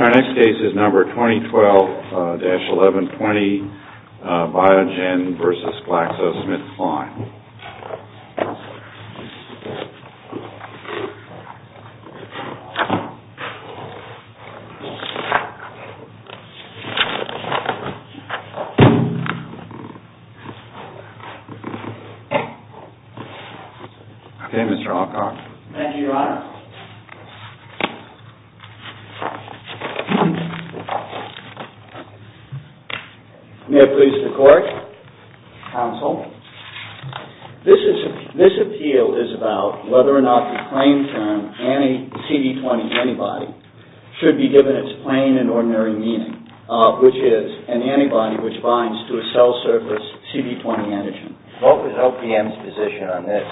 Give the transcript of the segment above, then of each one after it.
Our next case is number 2012-1120, BIOGEN v. GLAXOSMITHKLINE. May it please the court, counsel. This appeal is about whether or not the claim term anti-CD20 antibody should be given its plain and ordinary meaning, which is an antibody which binds to a cell surface CD20 antigen. What was LPM's position on this?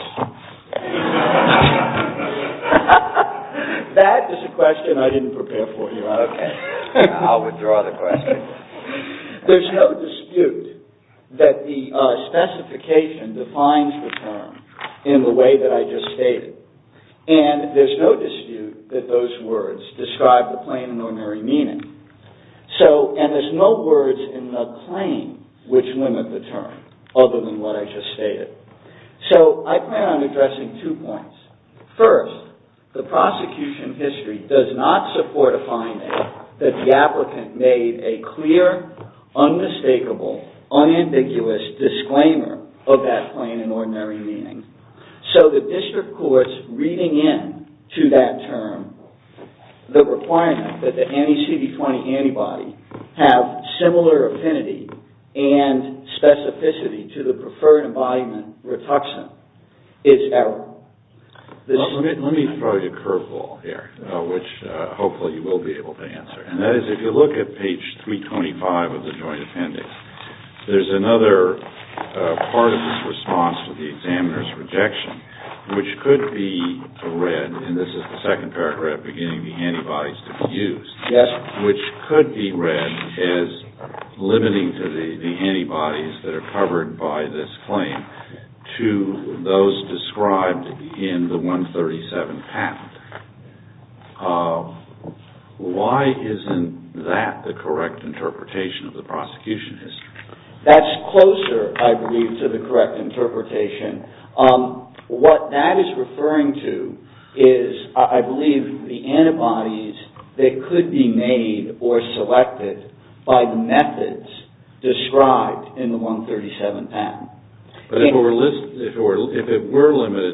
That is a question I didn't prepare for you. Okay. I'll withdraw the question. There's no dispute that the specification defines the term in the way that I just stated. And there's no dispute that those words describe the plain and ordinary meaning. And there's no words in the claim which limit the term, other than what I just stated. So I plan on addressing two points. First, the prosecution history does not support a finding that the applicant made a clear, unmistakable, unambiguous disclaimer of that plain and ordinary meaning. So the district court's reading in to that term the requirement that the anti-CD20 antibody have similar affinity and specificity to the preferred embodiment, rituxim, is error. Let me throw you a curveball here, which hopefully you will be able to answer. And that is, if you look at page 325 of the joint appendix, there's another part of this response to the examiner's rejection, which could be read, and this is the second paragraph, beginning the antibodies to be used, which could be read as limiting to the antibodies that are covered by this claim to those described in the 137 patent. Why isn't that the correct interpretation of the prosecution history? That's closer, I believe, to the correct interpretation. What that is referring to is, I believe, the antibodies that could be made or selected by the methods described in the 137 patent. But if it were limited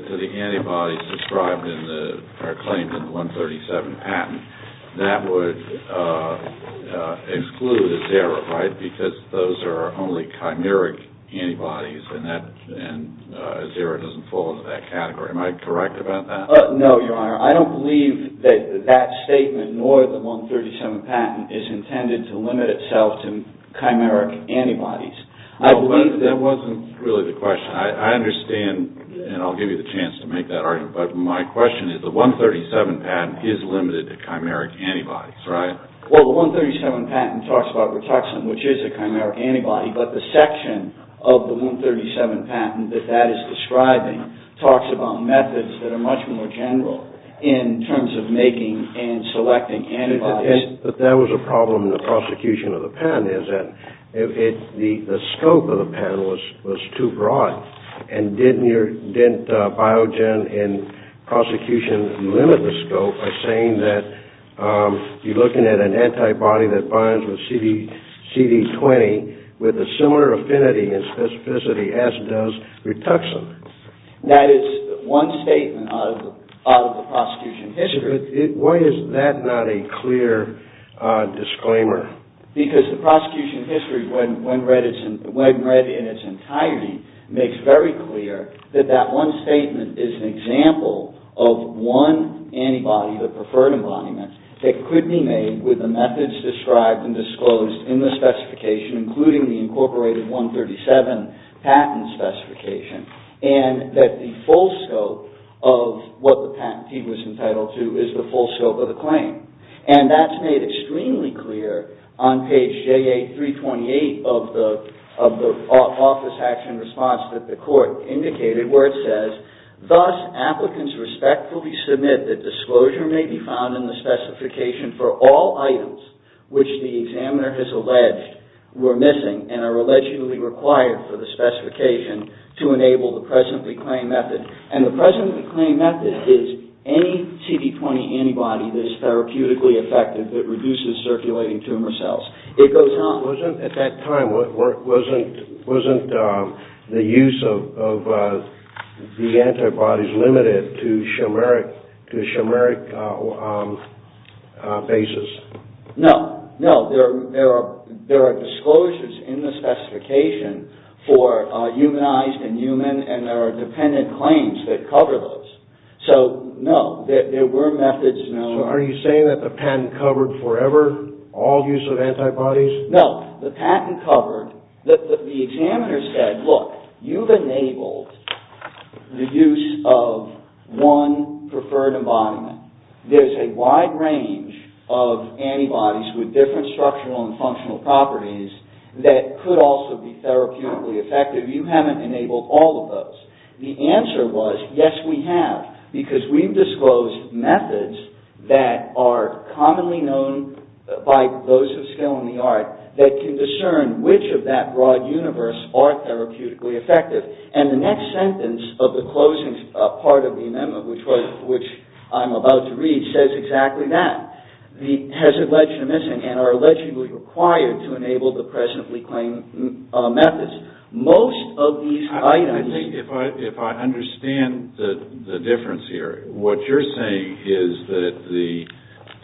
to the antibodies described in the, or claimed in the 137 patent, that would exclude Azira, right? Because those are only chimeric antibodies, and Azira doesn't fall into that category. Am I correct about that? No, Your Honor. I don't believe that that statement, nor the 137 patent, is intended to limit itself to chimeric antibodies. I believe that wasn't really the question. I understand, and I'll give you the chance to make that argument, but my question is, the 137 patent is limited to chimeric antibodies, right? Well, the 137 patent talks about rituxim, which is a chimeric antibody, but the section of the 137 patent that that is describing talks about methods that are much more general in terms of making and selecting antibodies. But that was a problem in the prosecution of the pen, is that the scope of the pen was too broad, and didn't Biogen in prosecution limit the scope by saying that you're looking at an antibody that binds with CD20 with a similar affinity and specificity as does rituxim? That is one statement out of the prosecution history. Why is that not a clear disclaimer? Because the prosecution history, when read in its entirety, makes very clear that that one statement is an example of one antibody, the preferred embodiment, that could be made with the methods described and disclosed in the specification, including the incorporated 137 patent specification, and that the full scope of what the patentee was entitled to is the full scope of the claim. And that's made extremely clear on page JA328 of the office action response that the court indicated, where it says, Thus, applicants respectfully submit that disclosure may be found in the specification for all items which the examiner has alleged were missing and are allegedly required for the specification to enable the presently claimed method. And the presently claimed method is any CD20 antibody that is therapeutically effective that reduces circulating tumor cells. It goes on. Wasn't at that time, wasn't the use of the antibodies limited to chimeric bases? No, no. There are disclosures in the specification for humanized and human, and there are dependent claims that cover those. So, no. There were methods. So, are you saying that the patent covered forever all use of antibodies? No. The patent covered. The examiner said, look, you've enabled the use of one preferred embodiment. There's a wide range of antibodies with different structural and functional properties that could also be therapeutically effective. You haven't enabled all of those. The answer was, yes, we have, because we've disclosed methods that are commonly known by those of skill in the art that can discern which of that broad universe are therapeutically effective. And the next sentence of the closing part of the memo, which I'm about to read, says exactly that. It has alleged missing and are allegedly required to enable the presently claimed methods. Most of these items... I think if I understand the difference here, what you're saying is that the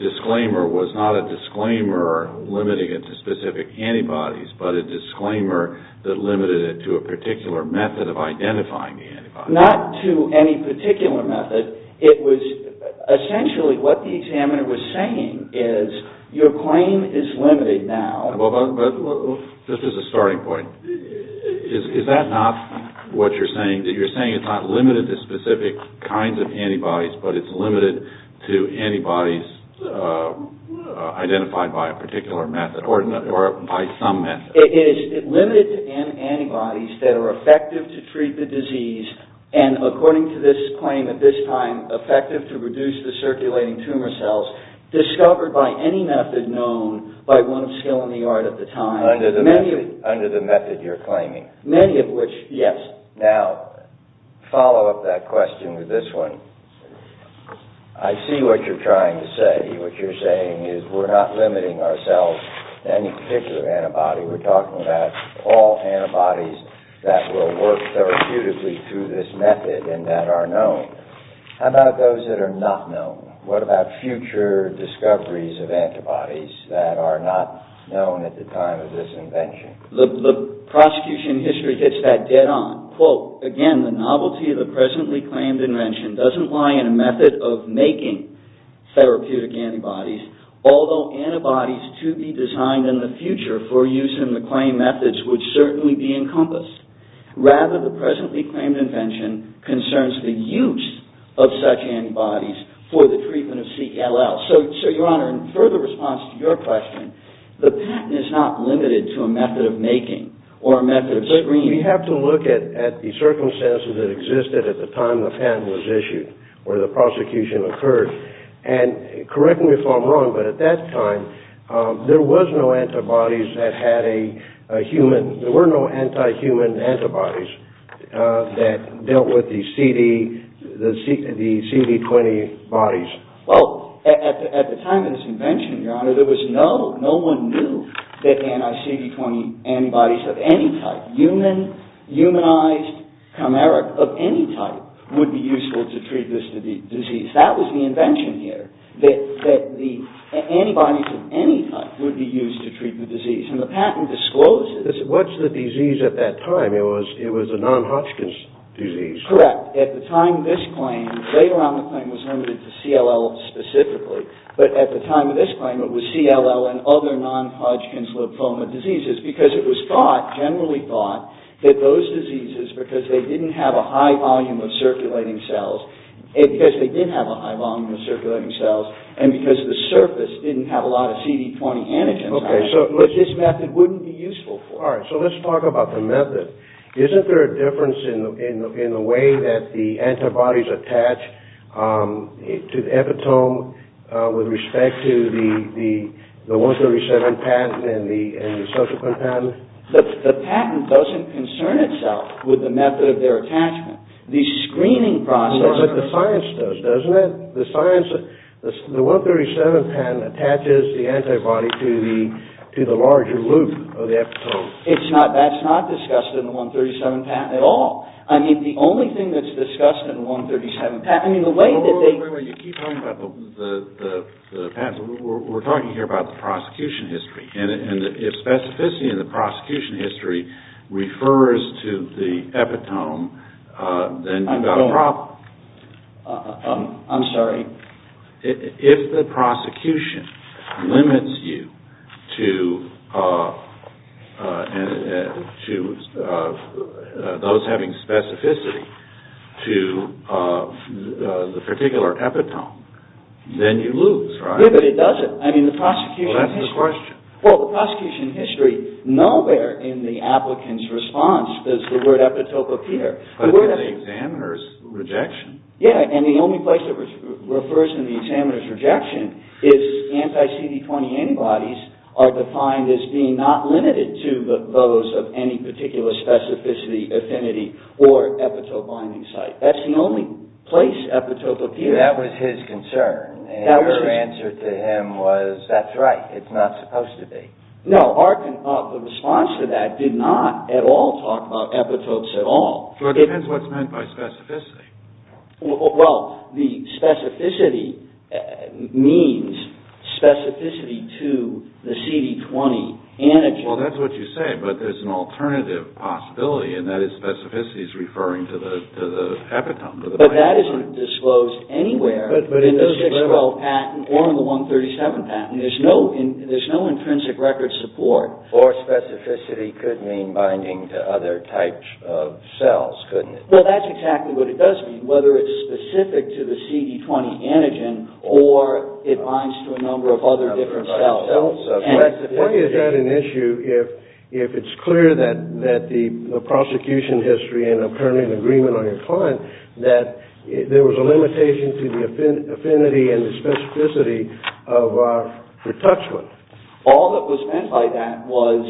disclaimer was not a disclaimer limiting it to specific antibodies, but a disclaimer that limited it to a particular method of identifying the antibodies. Not to any particular method. It was essentially what the examiner was saying is your claim is limited now. Just as a starting point, is that not what you're saying? You're saying it's not limited to specific kinds of antibodies, but it's limited to antibodies identified by a particular method or by some method. It is limited to antibodies that are effective to treat the disease and according to this claim at this time effective to reduce the circulating tumor cells discovered by any method known by one of skill in the art at the time. Under the method you're claiming. Many of which, yes. Now, follow up that question with this one. I see what you're trying to say. What you're saying is we're not limiting ourselves to any particular antibody. We're talking about all antibodies that will work therapeutically through this method and that are known. How about those that are not known? What about future discoveries of antibodies that are not known at the time of this invention? The prosecution history hits that dead on. Again, the novelty of the presently claimed invention doesn't lie in a method of making therapeutic antibodies. Although antibodies to be designed in the future for use in the claim methods would certainly be encompassed. Rather, the presently claimed invention concerns the use of such antibodies for the treatment of CLL. Your Honor, in further response to your question, the patent is not limited to a method of making or a method of screening. We have to look at the circumstances that existed at the time the patent was issued or the prosecution occurred. Correct me if I'm wrong, but at that time there were no anti-human antibodies that dealt with the CD20 bodies. Well, at the time of this invention, your Honor, there was no, no one knew that anti-CD20 antibodies of any type, humanized chimeric of any type, would be useful to treat this disease. That was the invention here, that the antibodies of any type would be used to treat the disease. And the patent discloses... What's the disease at that time? It was a non-Hodgkin's disease. Correct. At the time of this claim, later on the claim was limited to CLL specifically, but at the time of this claim it was CLL and other non-Hodgkin's lymphoma diseases, because it was thought, generally thought, that those diseases, because they didn't have a high volume of circulating cells, because they did have a high volume of circulating cells, and because the surface didn't have a lot of CD20 antigens, that this method wouldn't be useful for. All right, so let's talk about the method. Isn't there a difference in the way that the antibodies attach to the epitome with respect to the 137 patent and the subsequent patent? The patent doesn't concern itself with the method of their attachment. The screening process... That's what the science does, doesn't it? The 137 patent attaches the antibody to the larger loop of the epitome. That's not discussed in the 137 patent at all. I mean, the only thing that's discussed in the 137 patent... Wait, wait, wait, you keep talking about the patent. We're talking here about the prosecution history. And if specificity in the prosecution history refers to the epitome, then you've got a problem. I'm sorry. If the prosecution limits you to those having specificity to the particular epitome, then you lose, right? Yeah, but it doesn't. I mean, the prosecution history... Well, that's the question. Well, the prosecution history, nowhere in the applicant's response does the word epitope appear. But it's in the examiner's rejection. Yeah, and the only place that refers to the examiner's rejection is anti-CD20 antibodies are defined as being not limited to those of any particular specificity, affinity, or epitope-binding site. That's the only place epitope appears. That was his concern, and your answer to him was, that's right, it's not supposed to be. No, our response to that did not at all talk about epitopes at all. Well, it depends what's meant by specificity. Well, the specificity means specificity to the CD20 antigen. Well, that's what you say, but there's an alternative possibility, and that is specificity is referring to the epitome, to the binding site. But that isn't disclosed anywhere in the 612 patent or in the 137 patent. There's no intrinsic record support. Or specificity could mean binding to other types of cells, couldn't it? Well, that's exactly what it does mean, whether it's specific to the CD20 antigen or it binds to a number of other different cells. Why is that an issue if it's clear that the prosecution history, and I'm currently in agreement on your client, that there was a limitation to the affinity and the specificity of our retouchment? All that was meant by that was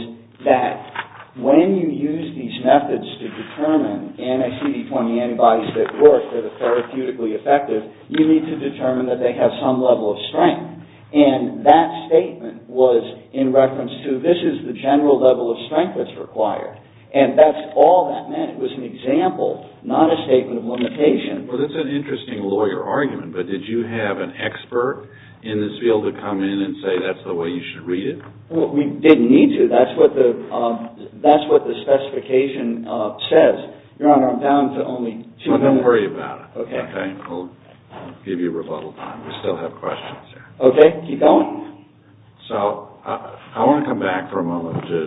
that when you use these methods to determine NACD20 antibodies that work, that are therapeutically effective, you need to determine that they have some level of strength. And that statement was in reference to this is the general level of strength that's required. And that's all that meant. It was an example, not a statement of limitation. Well, that's an interesting lawyer argument, but did you have an expert in this field to come in and say that's the way you should read it? Well, we didn't need to. That's what the specification says. Your Honor, I'm down to only two minutes. Well, don't worry about it, okay? I'll give you rebuttal time. We still have questions here. Okay. Keep going. So, I want to come back for a moment to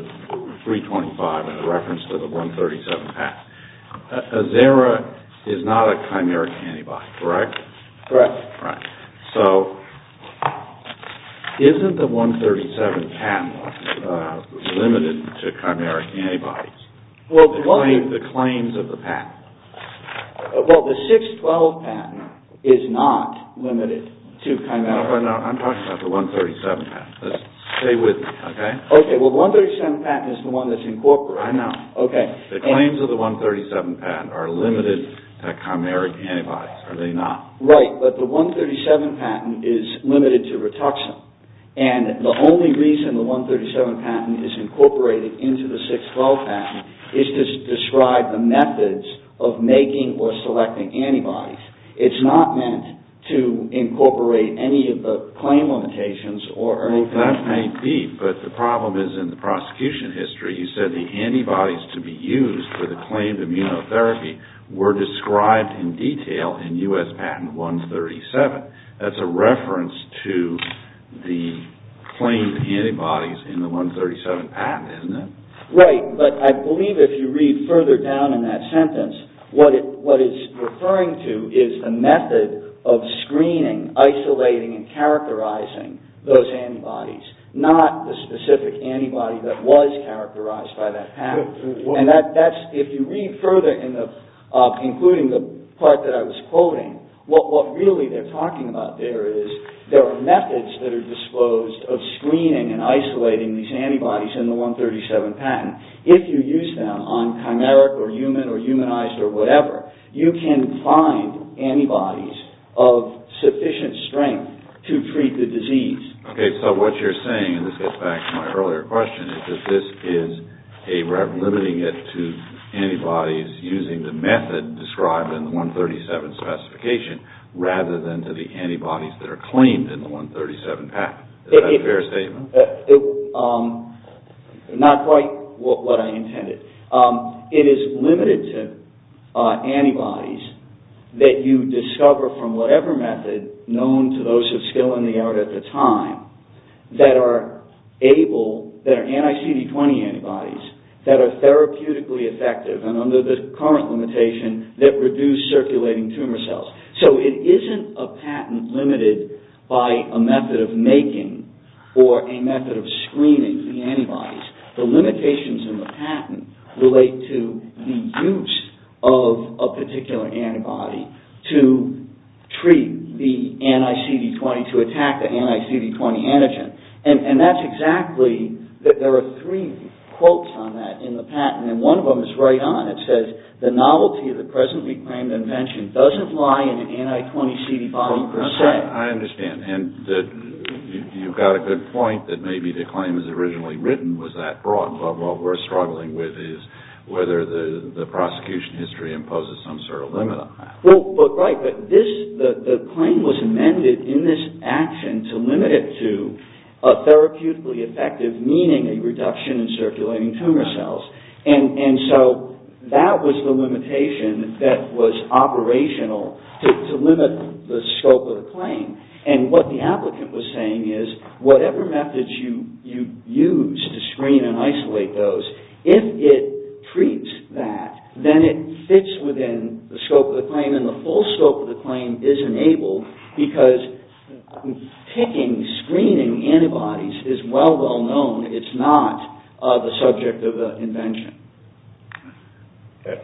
325 in reference to the 137 patent. Azera is not a chimeric antibody, correct? Correct. So, isn't the 137 patent limited to chimeric antibodies? The claims of the patent. I'm talking about the 137 patent. Stay with me, okay? Okay. Well, the 137 patent is the one that's incorporated. I know. Okay. The claims of the 137 patent are limited to chimeric antibodies, are they not? Right, but the 137 patent is limited to rituxim. And the only reason the 137 patent is incorporated into the 612 patent is to describe the methods of making or selecting antibodies. It's not meant to incorporate any of the claim limitations or anything. Well, that may be, but the problem is in the prosecution history, you said the antibodies to be used for the claimed immunotherapy were described in detail in U.S. Patent 137. That's a reference to the claimed antibodies in the 137 patent, isn't it? Right, but I believe if you read further down in that sentence, what it's referring to is the method of screening, isolating, and characterizing those antibodies, not the specific antibody that was characterized by that patent. If you read further, including the part that I was quoting, what really they're talking about there is there are methods that are disposed of screening and isolating these antibodies in the 137 patent. If you use them on chimeric or human or humanized or whatever, you can find antibodies of sufficient strength to treat the disease. Okay, so what you're saying, and this gets back to my earlier question, is that this is limiting it to antibodies using the method described in the 137 specification rather than to the antibodies that are claimed in the 137 patent. Is that a fair statement? Not quite what I intended. It is limited to antibodies that you discover from whatever method known to those of skill in the art at the time that are able, that are anti-CD20 antibodies, that are therapeutically effective and under the current limitation that reduce circulating tumor cells. So, it isn't a patent limited by a method of making or a method of screening the antibodies. The limitations in the patent relate to the use of a particular antibody to treat the anti-CD20, to attack the anti-CD20 antigen. And that's exactly, there are three quotes on that in the patent, and one of them is right on. It says, the novelty of the presently claimed invention doesn't lie in anti-CD20 per se. I understand, and you've got a good point that maybe the claim as originally written was that broad. But what we're struggling with is whether the prosecution history imposes some sort of limit on that. Right, but the claim was amended in this action to limit it to a therapeutically effective, meaning a reduction in circulating tumor cells. And so, that was the limitation that was operational to limit the scope of the claim. And what the applicant was saying is, whatever methods you use to screen and isolate those, if it treats that, then it fits within the scope of the claim and the full scope of the claim is enabled, because picking, screening antibodies is well, well known. It's not the subject of the invention.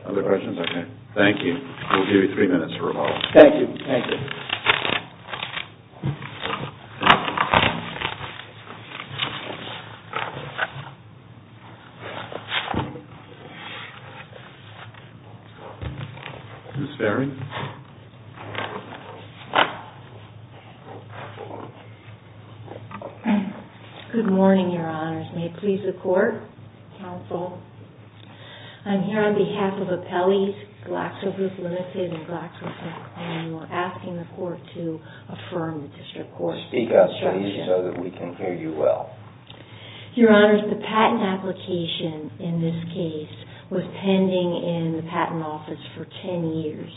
Other questions? Okay. Thank you. We'll give you three minutes for rebuttal. Thank you. Thank you. Ms. Ferry? Good morning, Your Honors. May it please the Court, Counsel. I'm here on behalf of Appellees, GlaxoGroup Ltd. and GlaxoGroup, and we're asking the Court to affirm the District Court's decision. Speak up, please, so that we can hear you well. Your Honors, the patent application in this case was pending in the Patent Office for ten years.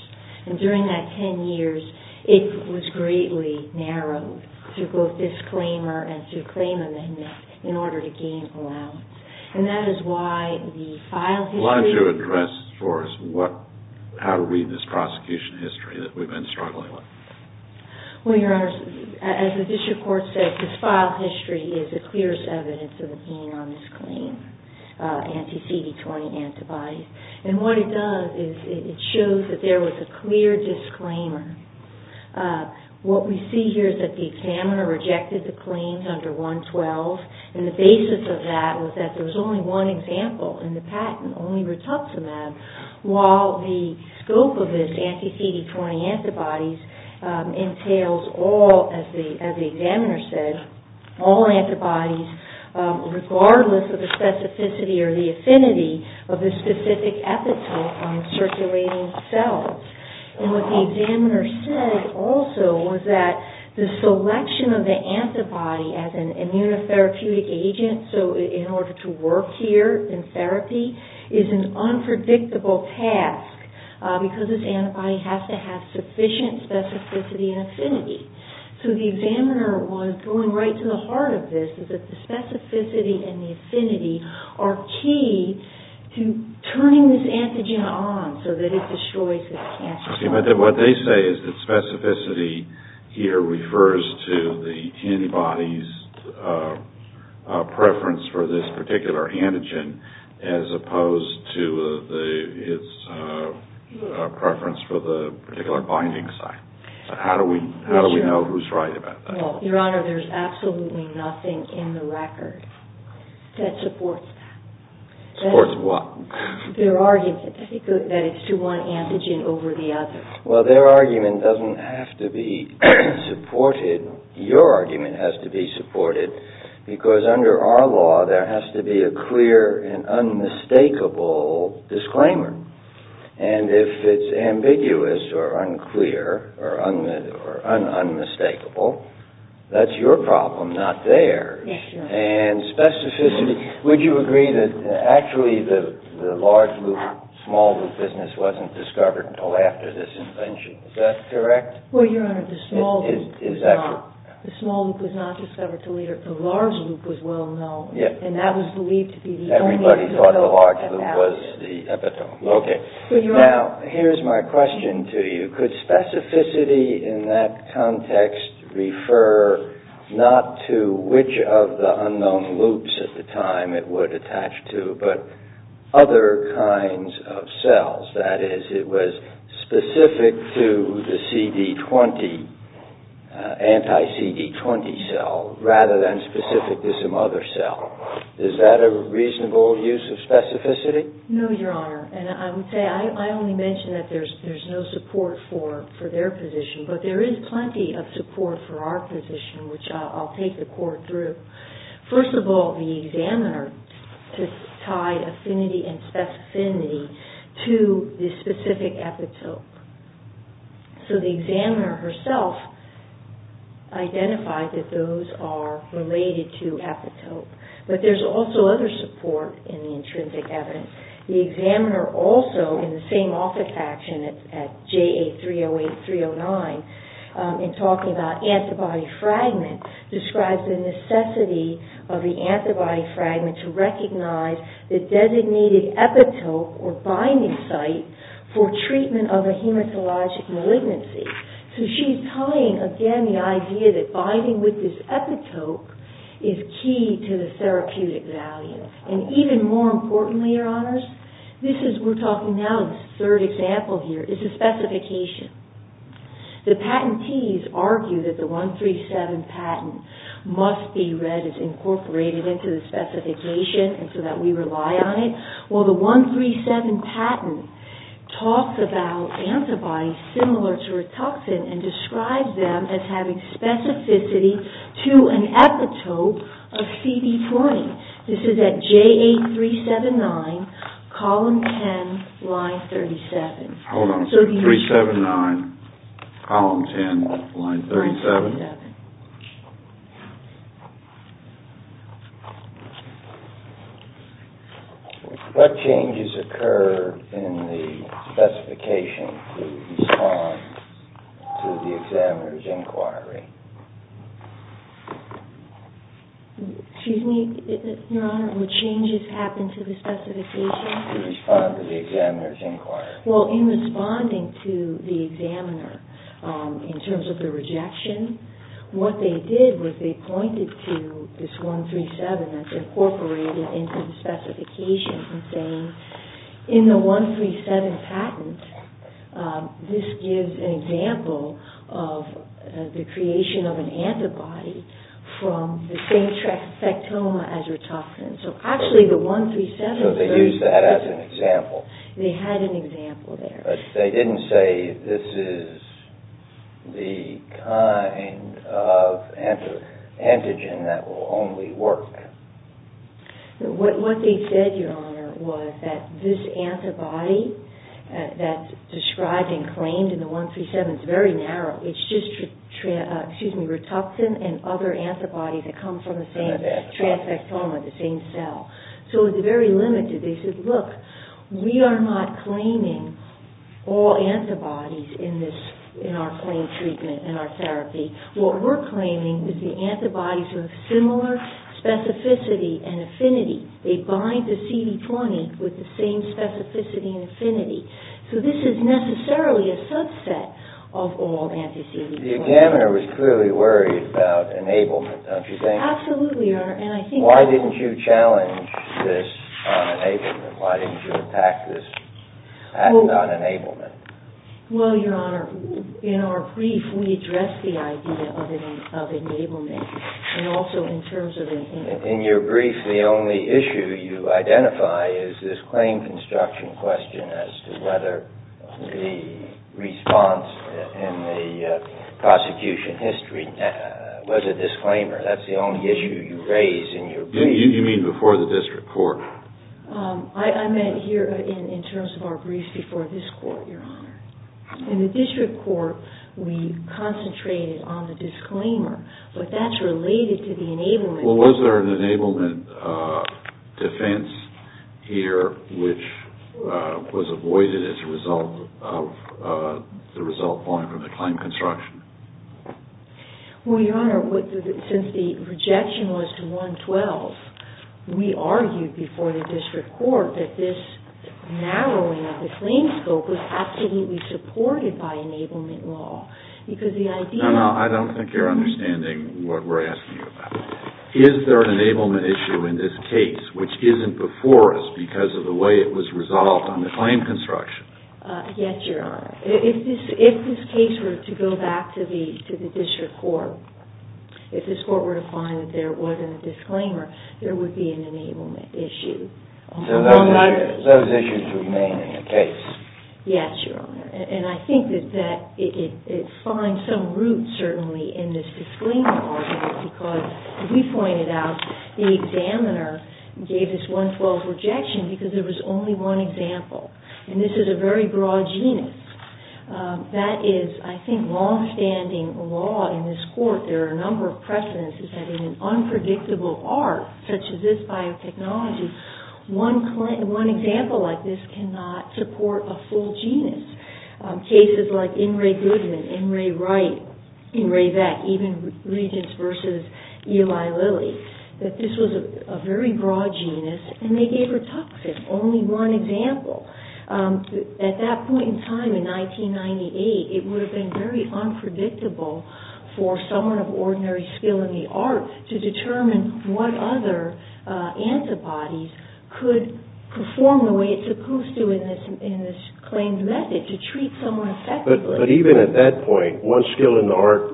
And during that ten years, it was greatly narrowed to both disclaimer and to claim amendment in order to gain allowance. And that is why the file history… Why don't you address for us how to read this prosecution history that we've been struggling with. Well, Your Honors, as the District Court said, this file history is the clearest evidence of being on this claim, anti-CD20 antibodies. And what it does is it shows that there was a clear disclaimer. What we see here is that the examiner rejected the claims under 112. And the basis of that was that there was only one example in the patent, only rituximab, while the scope of this anti-CD20 antibodies entails all, as the examiner said, all antibodies, regardless of the specificity or the affinity of the specific epithel on circulating cells. And what the examiner said also was that the selection of the antibody as an immunotherapeutic agent, so in order to work here in therapy, is an unpredictable task because this antibody has to have sufficient specificity and affinity. So the examiner was going right to the heart of this, is that the specificity and the affinity are key to turning this antigen on so that it destroys this cancer cell. Okay, but what they say is that specificity here refers to the antibody's preference for this particular antigen as opposed to its preference for the particular binding site. How do we know who's right about that? Well, Your Honor, there's absolutely nothing in the record that supports that. Supports what? Their argument that it's to one antigen over the other. Well, their argument doesn't have to be supported. Your argument has to be supported because under our law there has to be a clear and unmistakable disclaimer. And if it's ambiguous or unclear or unmistakable, that's your problem, not theirs. Yes, Your Honor. And specificity, would you agree that actually the large loop, small loop business wasn't discovered until after this invention? Is that correct? Well, Your Honor, the small loop was not. Is that correct? The small loop was not discovered until later. The large loop was well known. Yes. Everybody thought the large loop was the epitome. Okay. Now, here's my question to you. Could specificity in that context refer not to which of the unknown loops at the time it would attach to, but other kinds of cells? That is, it was specific to the CD20, anti-CD20 cell, rather than specific to some other cell. Is that a reasonable use of specificity? No, Your Honor. And I would say I only mention that there's no support for their position, but there is plenty of support for our position, which I'll take the court through. First of all, the examiner tied affinity and specificity to the specific epitope. So, the examiner herself identified that those are related to epitope. But there's also other support in the intrinsic evidence. The examiner also, in the same office action at JA308, 309, in talking about antibody fragment, describes the necessity of the antibody fragment to recognize the designated epitope or binding site for treatment of a hematologic malignancy. So, she's tying, again, the idea that binding with this epitope is key to the therapeutic value. And even more importantly, Your Honors, this is, we're talking now, the third example here, is the specification. The patentees argue that the 137 patent must be read as incorporated into the specification so that we rely on it, while the 137 patent talks about antibodies similar to a toxin and describes them as having specificity to an epitope of CD20. This is at JA379, column 10, line 37. Hold on a second. 379, column 10, line 37. What changes occur in the specification to respond to the examiner's inquiry? Excuse me, Your Honor, what changes happen to the specification to respond to the examiner's inquiry? Well, in responding to the examiner, in terms of the rejection, what they did was they pointed to this 137 that's incorporated into the specification, and saying, in the 137 patent, this gives an example of the creation of an antibody from the same tracheostoma as Ritophrenin. So, actually, the 137... So, they used that as an example. They had an example there. But they didn't say, this is the kind of antigen that will only work. What they said, Your Honor, was that this antibody that's described and claimed in the 137 is very narrow. It's just Rituxan and other antibodies that come from the same tracheostoma, the same cell. So, it's very limited. They said, look, we are not claiming all antibodies in our claim treatment, in our therapy. What we're claiming is the antibodies are of similar specificity and affinity. They bind to CD20 with the same specificity and affinity. So, this is necessarily a subset of all anti-CD20. The examiner was clearly worried about enablement, don't you think? Absolutely, Your Honor, and I think... Why didn't you challenge this on enablement? Why didn't you attack this patent on enablement? Well, Your Honor, in our brief, we address the idea of enablement, and also in terms of... In your brief, the only issue you identify is this claim construction question as to whether the response in the prosecution history was a disclaimer. That's the only issue you raise in your brief. You mean before the district court? I meant here in terms of our brief before this court, Your Honor. In the district court, we concentrated on the disclaimer, but that's related to the enablement. Well, was there an enablement defense here which was avoided as a result of the result falling from the claim construction? Well, Your Honor, since the rejection was to 112, we argued before the district court that this narrowing of the claim scope was absolutely supported by enablement law, because the idea... No, no, I don't think you're understanding what we're asking you about. Is there an enablement issue in this case which isn't before us because of the way it was resolved on the claim construction? Yes, Your Honor. If this case were to go back to the district court, if this court were to find that there wasn't a disclaimer, there would be an enablement issue. So those issues remain in the case. Yes, Your Honor. And I think that it finds some root, certainly, in this disclaimer argument, because we pointed out the examiner gave this 112 rejection because there was only one example. And this is a very broad genus. That is, I think, long-standing law in this court. There are a number of precedents. In an unpredictable arc, such as this biotechnology, one example like this cannot support a full genus. Cases like N. Ray Goodman, N. Ray Wright, N. Ray Beck, even Regence v. Eli Lilly, that this was a very broad genus, and they gave retoxic, only one example. At that point in time, in 1998, it would have been very unpredictable for someone of ordinary skill in the art to determine what other antibodies could perform the way it's supposed to in this claimed method to treat someone effectively. But even at that point, one skill in the art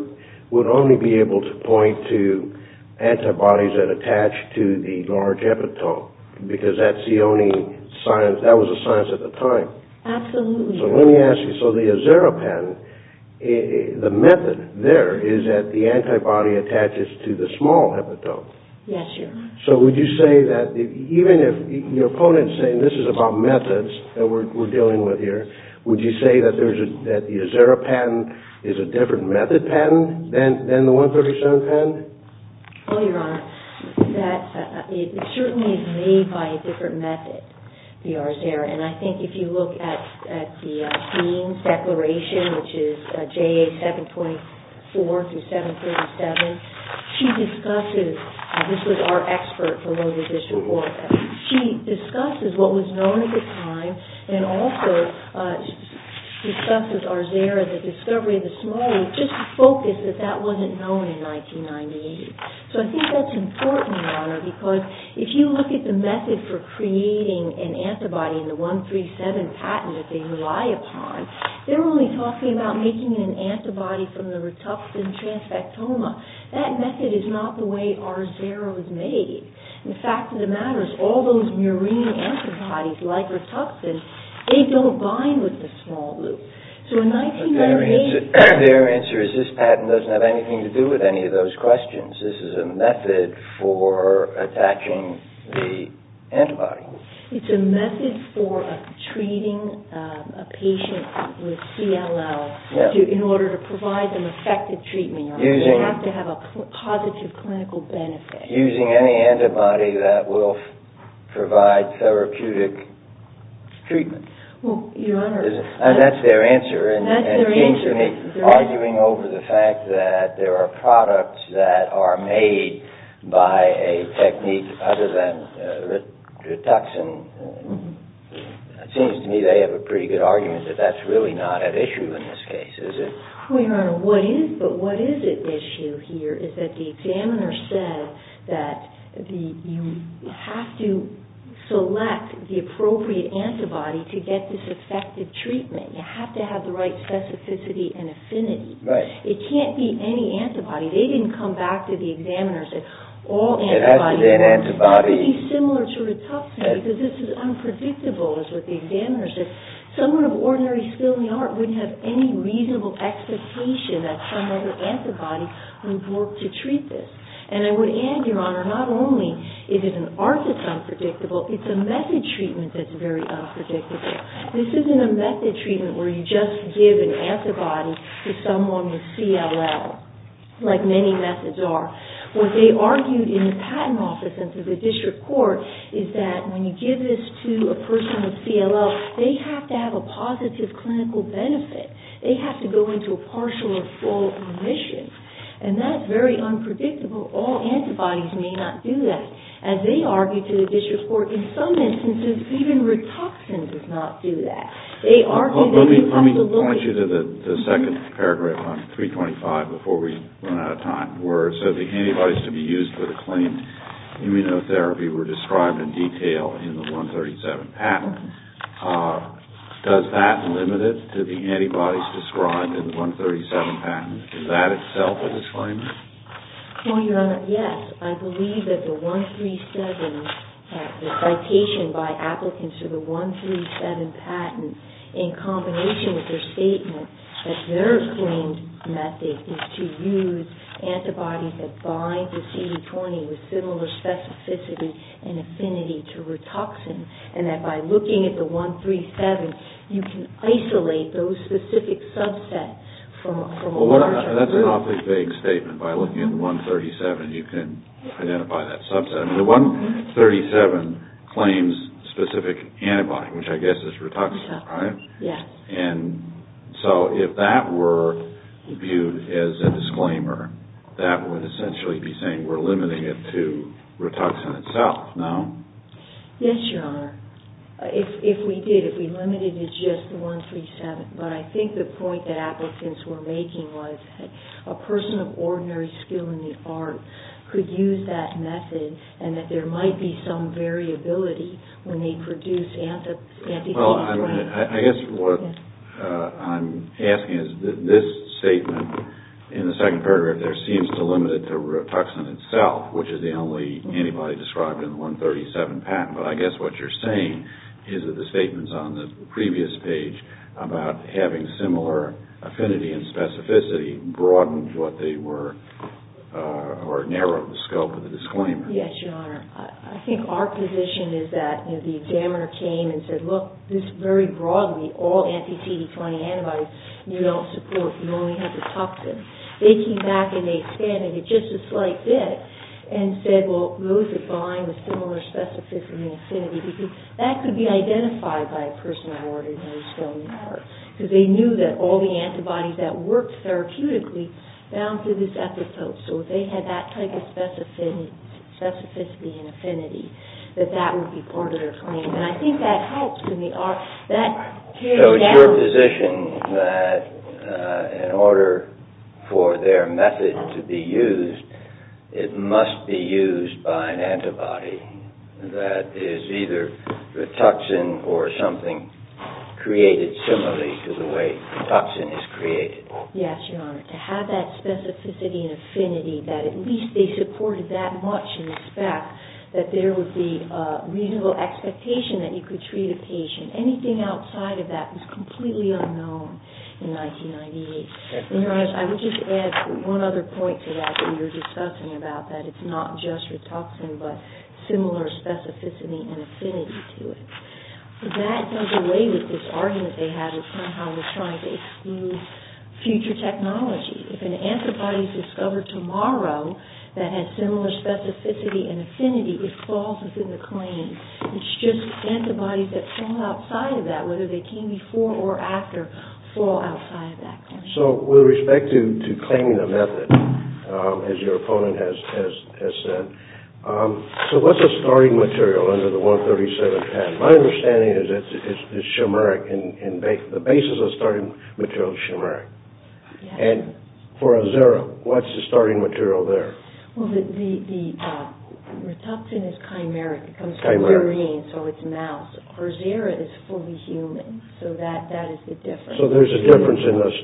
would only be able to point to antibodies that attach to the large epitope, because that was a science at the time. Absolutely. So let me ask you, so the Azeropan, the method there is that the antibody attaches to the small epitope. Yes, Your Honor. So would you say that even if your opponent is saying this is about methods that we're dealing with here, would you say that the Azeropan is a different method patent than the 137 patent? Well, Your Honor, it certainly is made by a different method, the Azeropan. And I think if you look at the Dean's declaration, which is JA 724 through 737, she discusses, this was our expert for Longwood District, Oregon. She discusses what was known at the time, and also discusses Arzera, the discovery of the small, just to focus that that wasn't known in 1998. So I think that's important, Your Honor, because if you look at the method for creating an antibody in the 137 patent that they rely upon, they're only talking about making an antibody from the Rituxan transfectoma. That method is not the way Arzera was made. And the fact of the matter is, all those murine antibodies, like Rituxan, they don't bind with the small loop. Their answer is this patent doesn't have anything to do with any of those questions. This is a method for attaching the antibody. It's a method for treating a patient with CLL in order to provide them effective treatment. They have to have a positive clinical benefit. Using any antibody that will provide therapeutic treatment. And that's their answer, and it seems to me, arguing over the fact that there are products that are made by a technique other than Rituxan, it seems to me they have a pretty good argument that that's really not at issue in this case, is it? Well, Your Honor, but what is at issue here is that the examiner said that you have to select the appropriate antibody to get this effective treatment. You have to have the right specificity and affinity. Right. It can't be any antibody. They didn't come back to the examiner and say all antibodies. It has to be an antibody. It's pretty similar to Rituxan because this is unpredictable, is what the examiner said. Someone of ordinary skill in the art wouldn't have any reasonable expectation that some other antibody would work to treat this. And I would add, Your Honor, not only is it an art that's unpredictable, it's a method treatment that's very unpredictable. This isn't a method treatment where you just give an antibody to someone with CLL, like many methods are. What they argued in the patent office and to the district court is that when you give this to a person with CLL, they have to have a positive clinical benefit. They have to go into a partial or full remission. And that's very unpredictable. All antibodies may not do that. As they argued to the district court, in some instances, even Rituxan does not do that. Let me point you to the second paragraph on 325 before we run out of time. So the antibodies to be used for the claimed immunotherapy were described in detail in the 137 patent. Does that limit it to the antibodies described in the 137 patent? Is that itself a disclaimer? Well, Your Honor, yes. I believe that the 137, the citation by applicants to the 137 patent, in combination with their statement that their claimed method is to use antibodies that bind to CD20 with similar specificity and affinity to Rituxan, and that by looking at the 137, you can isolate those specific subsets from a larger subset. Well, that's an awfully vague statement. By looking at the 137, you can identify that subset. The 137 claims specific antibody, which I guess is Rituxan, right? Yes. And so if that were viewed as a disclaimer, that would essentially be saying we're limiting it to Rituxan itself, no? Yes, Your Honor. If we did, if we limited it to just 137. But I think the point that applicants were making was that a person of ordinary skill in the art could use that method, and that there might be some variability when they produce antibodies. Well, I guess what I'm asking is this statement in the second paragraph there seems to limit it to Rituxan itself, which is the only antibody described in the 137 patent. But I guess what you're saying is that the statements on the previous page about having similar affinity and specificity broadened what they were, or narrowed the scope of the disclaimer. Yes, Your Honor. I think our position is that the examiner came and said, look, this very broadly, all anti-CD20 antibodies you don't support. You only have the toxin. They came back and they expanded it just a slight bit and said, well, those that align with similar specificity and affinity, because that could be identified by a person of ordinary skill in the art, because they knew that all the antibodies that worked therapeutically bound to this epithelium. So if they had that type of specificity and affinity, that that would be part of their claim. And I think that helps. So it's your position that in order for their method to be used, it must be used by an antibody that is either Rituxan or something created similarly to the way Rituxan is created? Yes, Your Honor. To have that specificity and affinity that at least they supported that much in respect, that there would be a reasonable expectation that you could treat a patient. Anything outside of that was completely unknown in 1998. Your Honor, I would just add one other point to that that you were discussing about that it's not just Rituxan, but similar specificity and affinity to it. That goes away with this argument they had of somehow they're trying to exclude future technology. If an antibody is discovered tomorrow that has similar specificity and affinity, it falls within the claim. It's just antibodies that fall outside of that, whether they came before or after, fall outside of that claim. So with respect to claiming a method, as your opponent has said, so what's a starting material under the 137 patent? My understanding is it's shimeric, and the basis of a starting material is shimeric. And for Azera, what's the starting material there? Well, the Rituxan is chimeric. It comes from urine, so it's mouse. For Azera, it's fully human, so that is the difference. So there's a difference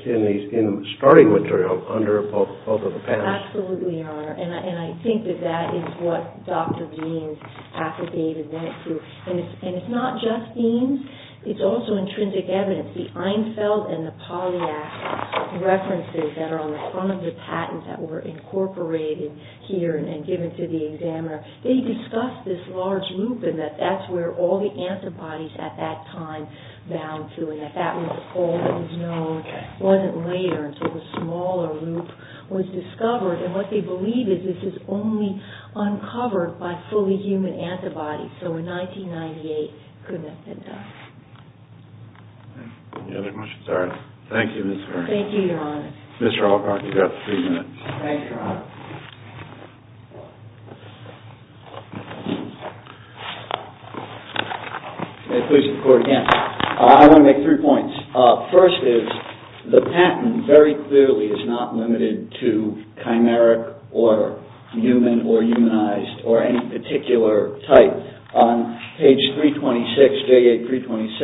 in the starting material under both of the patents? Absolutely, Your Honor, and I think that that is what Dr. Deans, Dr. David went through. And it's not just Deans. It's also intrinsic evidence. The Einfeld and the Polyax references that are on the front of the patent that were incorporated here and given to the examiner, they discussed this large loop and that that's where all the antibodies at that time bound to, and that that was all that was known wasn't later until the smaller loop was discovered. And what they believe is this is only uncovered by fully human antibodies. So in 1998, goodness knows. Any other questions? All right. Thank you, Ms. Vernon. Thank you, Your Honor. Mr. Alcott, you've got three minutes. Thanks, Your Honor. May it please the Court again. I want to make three points. First is the patent very clearly is not limited to chimeric or human or humanized or any particular type. On page 326, J.A. 326,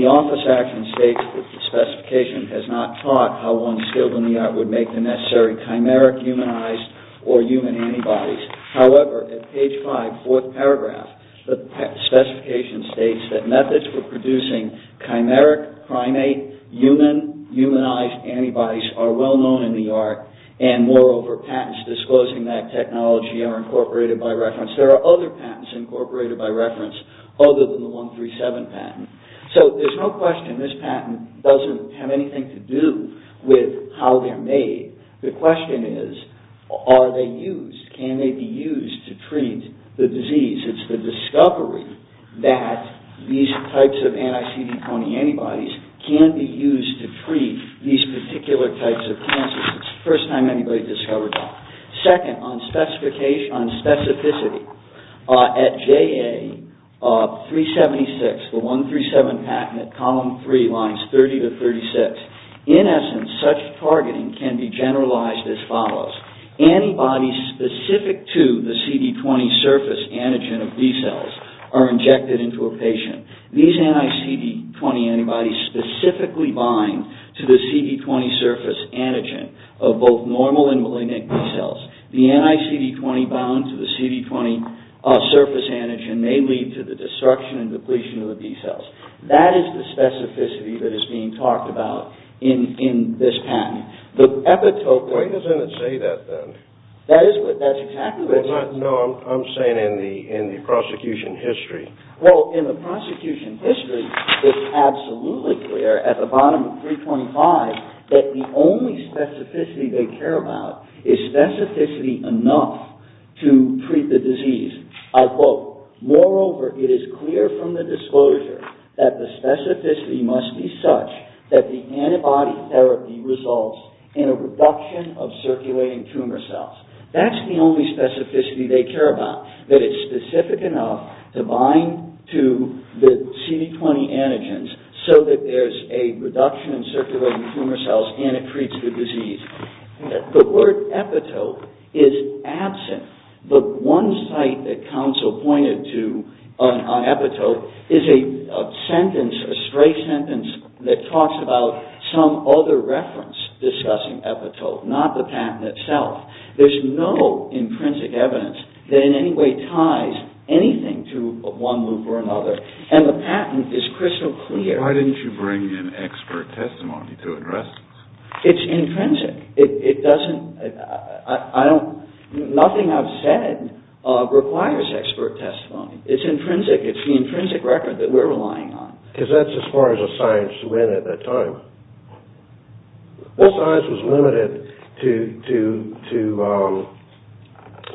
the office action states that the specification has not taught how one skilled in the art would make the necessary chimeric, humanized, or human antibodies. However, at page 5, fourth paragraph, the specification states that methods for producing chimeric, primate, human, humanized antibodies are well known in the art, and moreover, patents disclosing that technology are incorporated by reference. There are other patents incorporated by reference other than the 137 patent. So there's no question this patent doesn't have anything to do with how they're made. The question is, are they used? Can they be used to treat the disease? It's the discovery that these types of anti-CD20 antibodies can be used to treat these particular types of cancers. It's the first time anybody's discovered that. Second, on specificity, at J.A. 376, the 137 patent at column 3, lines 30 to 36, in essence, such targeting can be generalized as follows. Antibodies specific to the CD20 surface antigen of B-cells are injected into a patient. These anti-CD20 antibodies specifically bind to the CD20 surface antigen of both normal and malignant B-cells. The anti-CD20 bound to the CD20 surface antigen may lead to the destruction and depletion of the B-cells. That is the specificity that is being talked about in this patent. The epitope... Why doesn't it say that, then? That's exactly what it says. No, I'm saying in the prosecution history. Well, in the prosecution history, it's absolutely clear at the bottom of 325 that the only specificity they care about is specificity enough to treat the disease. Moreover, it is clear from the disclosure that the specificity must be such that the antibody therapy results in a reduction of circulating tumor cells. That's the only specificity they care about, that it's specific enough to bind to the CD20 antigens so that there's a reduction in circulating tumor cells and it treats the disease. The word epitope is absent. The one site that counsel pointed to on epitope is a sentence, a stray sentence, that talks about some other reference discussing epitope, not the patent itself. There's no intrinsic evidence that in any way ties anything to one loop or another. And the patent is crystal clear. Why didn't you bring in expert testimony to address this? It's intrinsic. Nothing I've said requires expert testimony. It's intrinsic. It's the intrinsic record that we're relying on. Because that's as far as a science went at that time. This science was limited to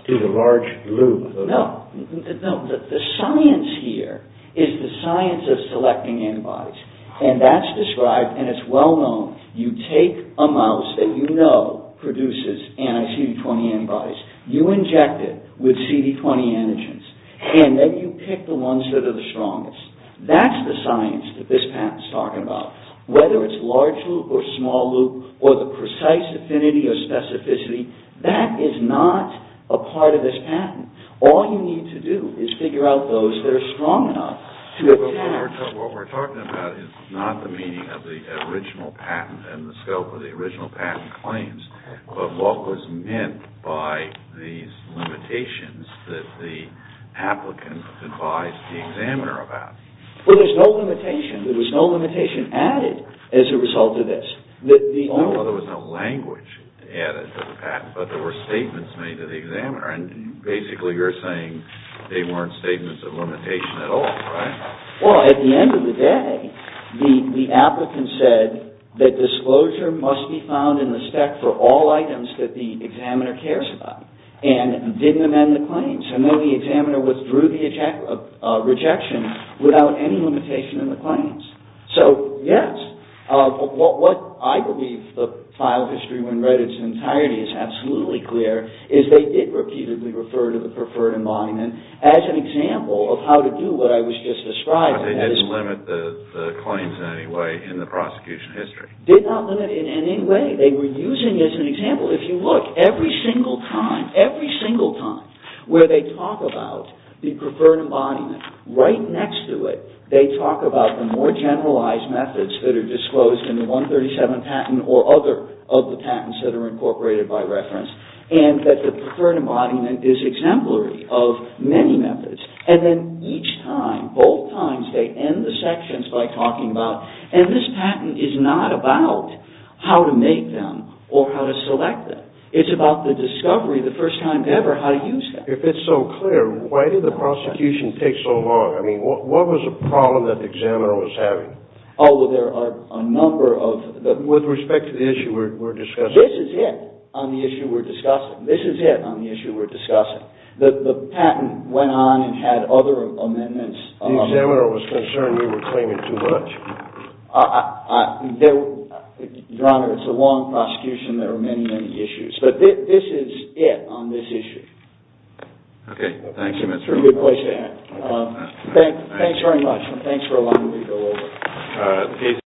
the large loop. No. The science here is the science of selecting antibodies. And that's described, and it's well known, you take a mouse that you know produces anti-CD20 antibodies, you inject it with CD20 antigens, and then you pick the ones that are the strongest. That's the science that this patent's talking about. Whether it's large loop or small loop or the precise affinity or specificity, that is not a part of this patent. All you need to do is figure out those that are strong enough to attack. What we're talking about is not the meaning of the original patent and the scope of the original patent claims, but what was meant by these limitations that the applicant advised the examiner about. Well, there's no limitation. There was no limitation added as a result of this. No, there was no language added to the patent, but there were statements made to the examiner. And basically you're saying they weren't statements of limitation at all, right? Well, at the end of the day, the applicant said that disclosure must be found in the spec for all items that the examiner cares about and didn't amend the claims. And then the examiner withdrew the rejection without any limitation in the claims. So, yes, what I believe the file history when read its entirety is absolutely clear is they did repeatedly refer to the preferred embodiment as an example of how to do what I was just describing. But they didn't limit the claims in any way in the prosecution history. Did not limit it in any way. They were using it as an example. If you look every single time, every single time, where they talk about the preferred embodiment, right next to it they talk about the more generalized methods that are disclosed in the 137 patent or other of the patents that are incorporated by reference and that the preferred embodiment is exemplary of many methods. And then each time, both times, they end the sections by talking about and this patent is not about how to make them or how to select them. It's about the discovery the first time ever how to use them. If it's so clear, why did the prosecution take so long? I mean, what was the problem that the examiner was having? Oh, well, there are a number of... With respect to the issue we're discussing. This is it on the issue we're discussing. This is it on the issue we're discussing. The patent went on and had other amendments. The examiner was concerned you were claiming too much. Your Honor, it's a long prosecution. There are many, many issues. But this is it on this issue. Okay. Thank you, Mr. Rubin. It's a good place to end. Thanks very much and thanks for allowing me to go over.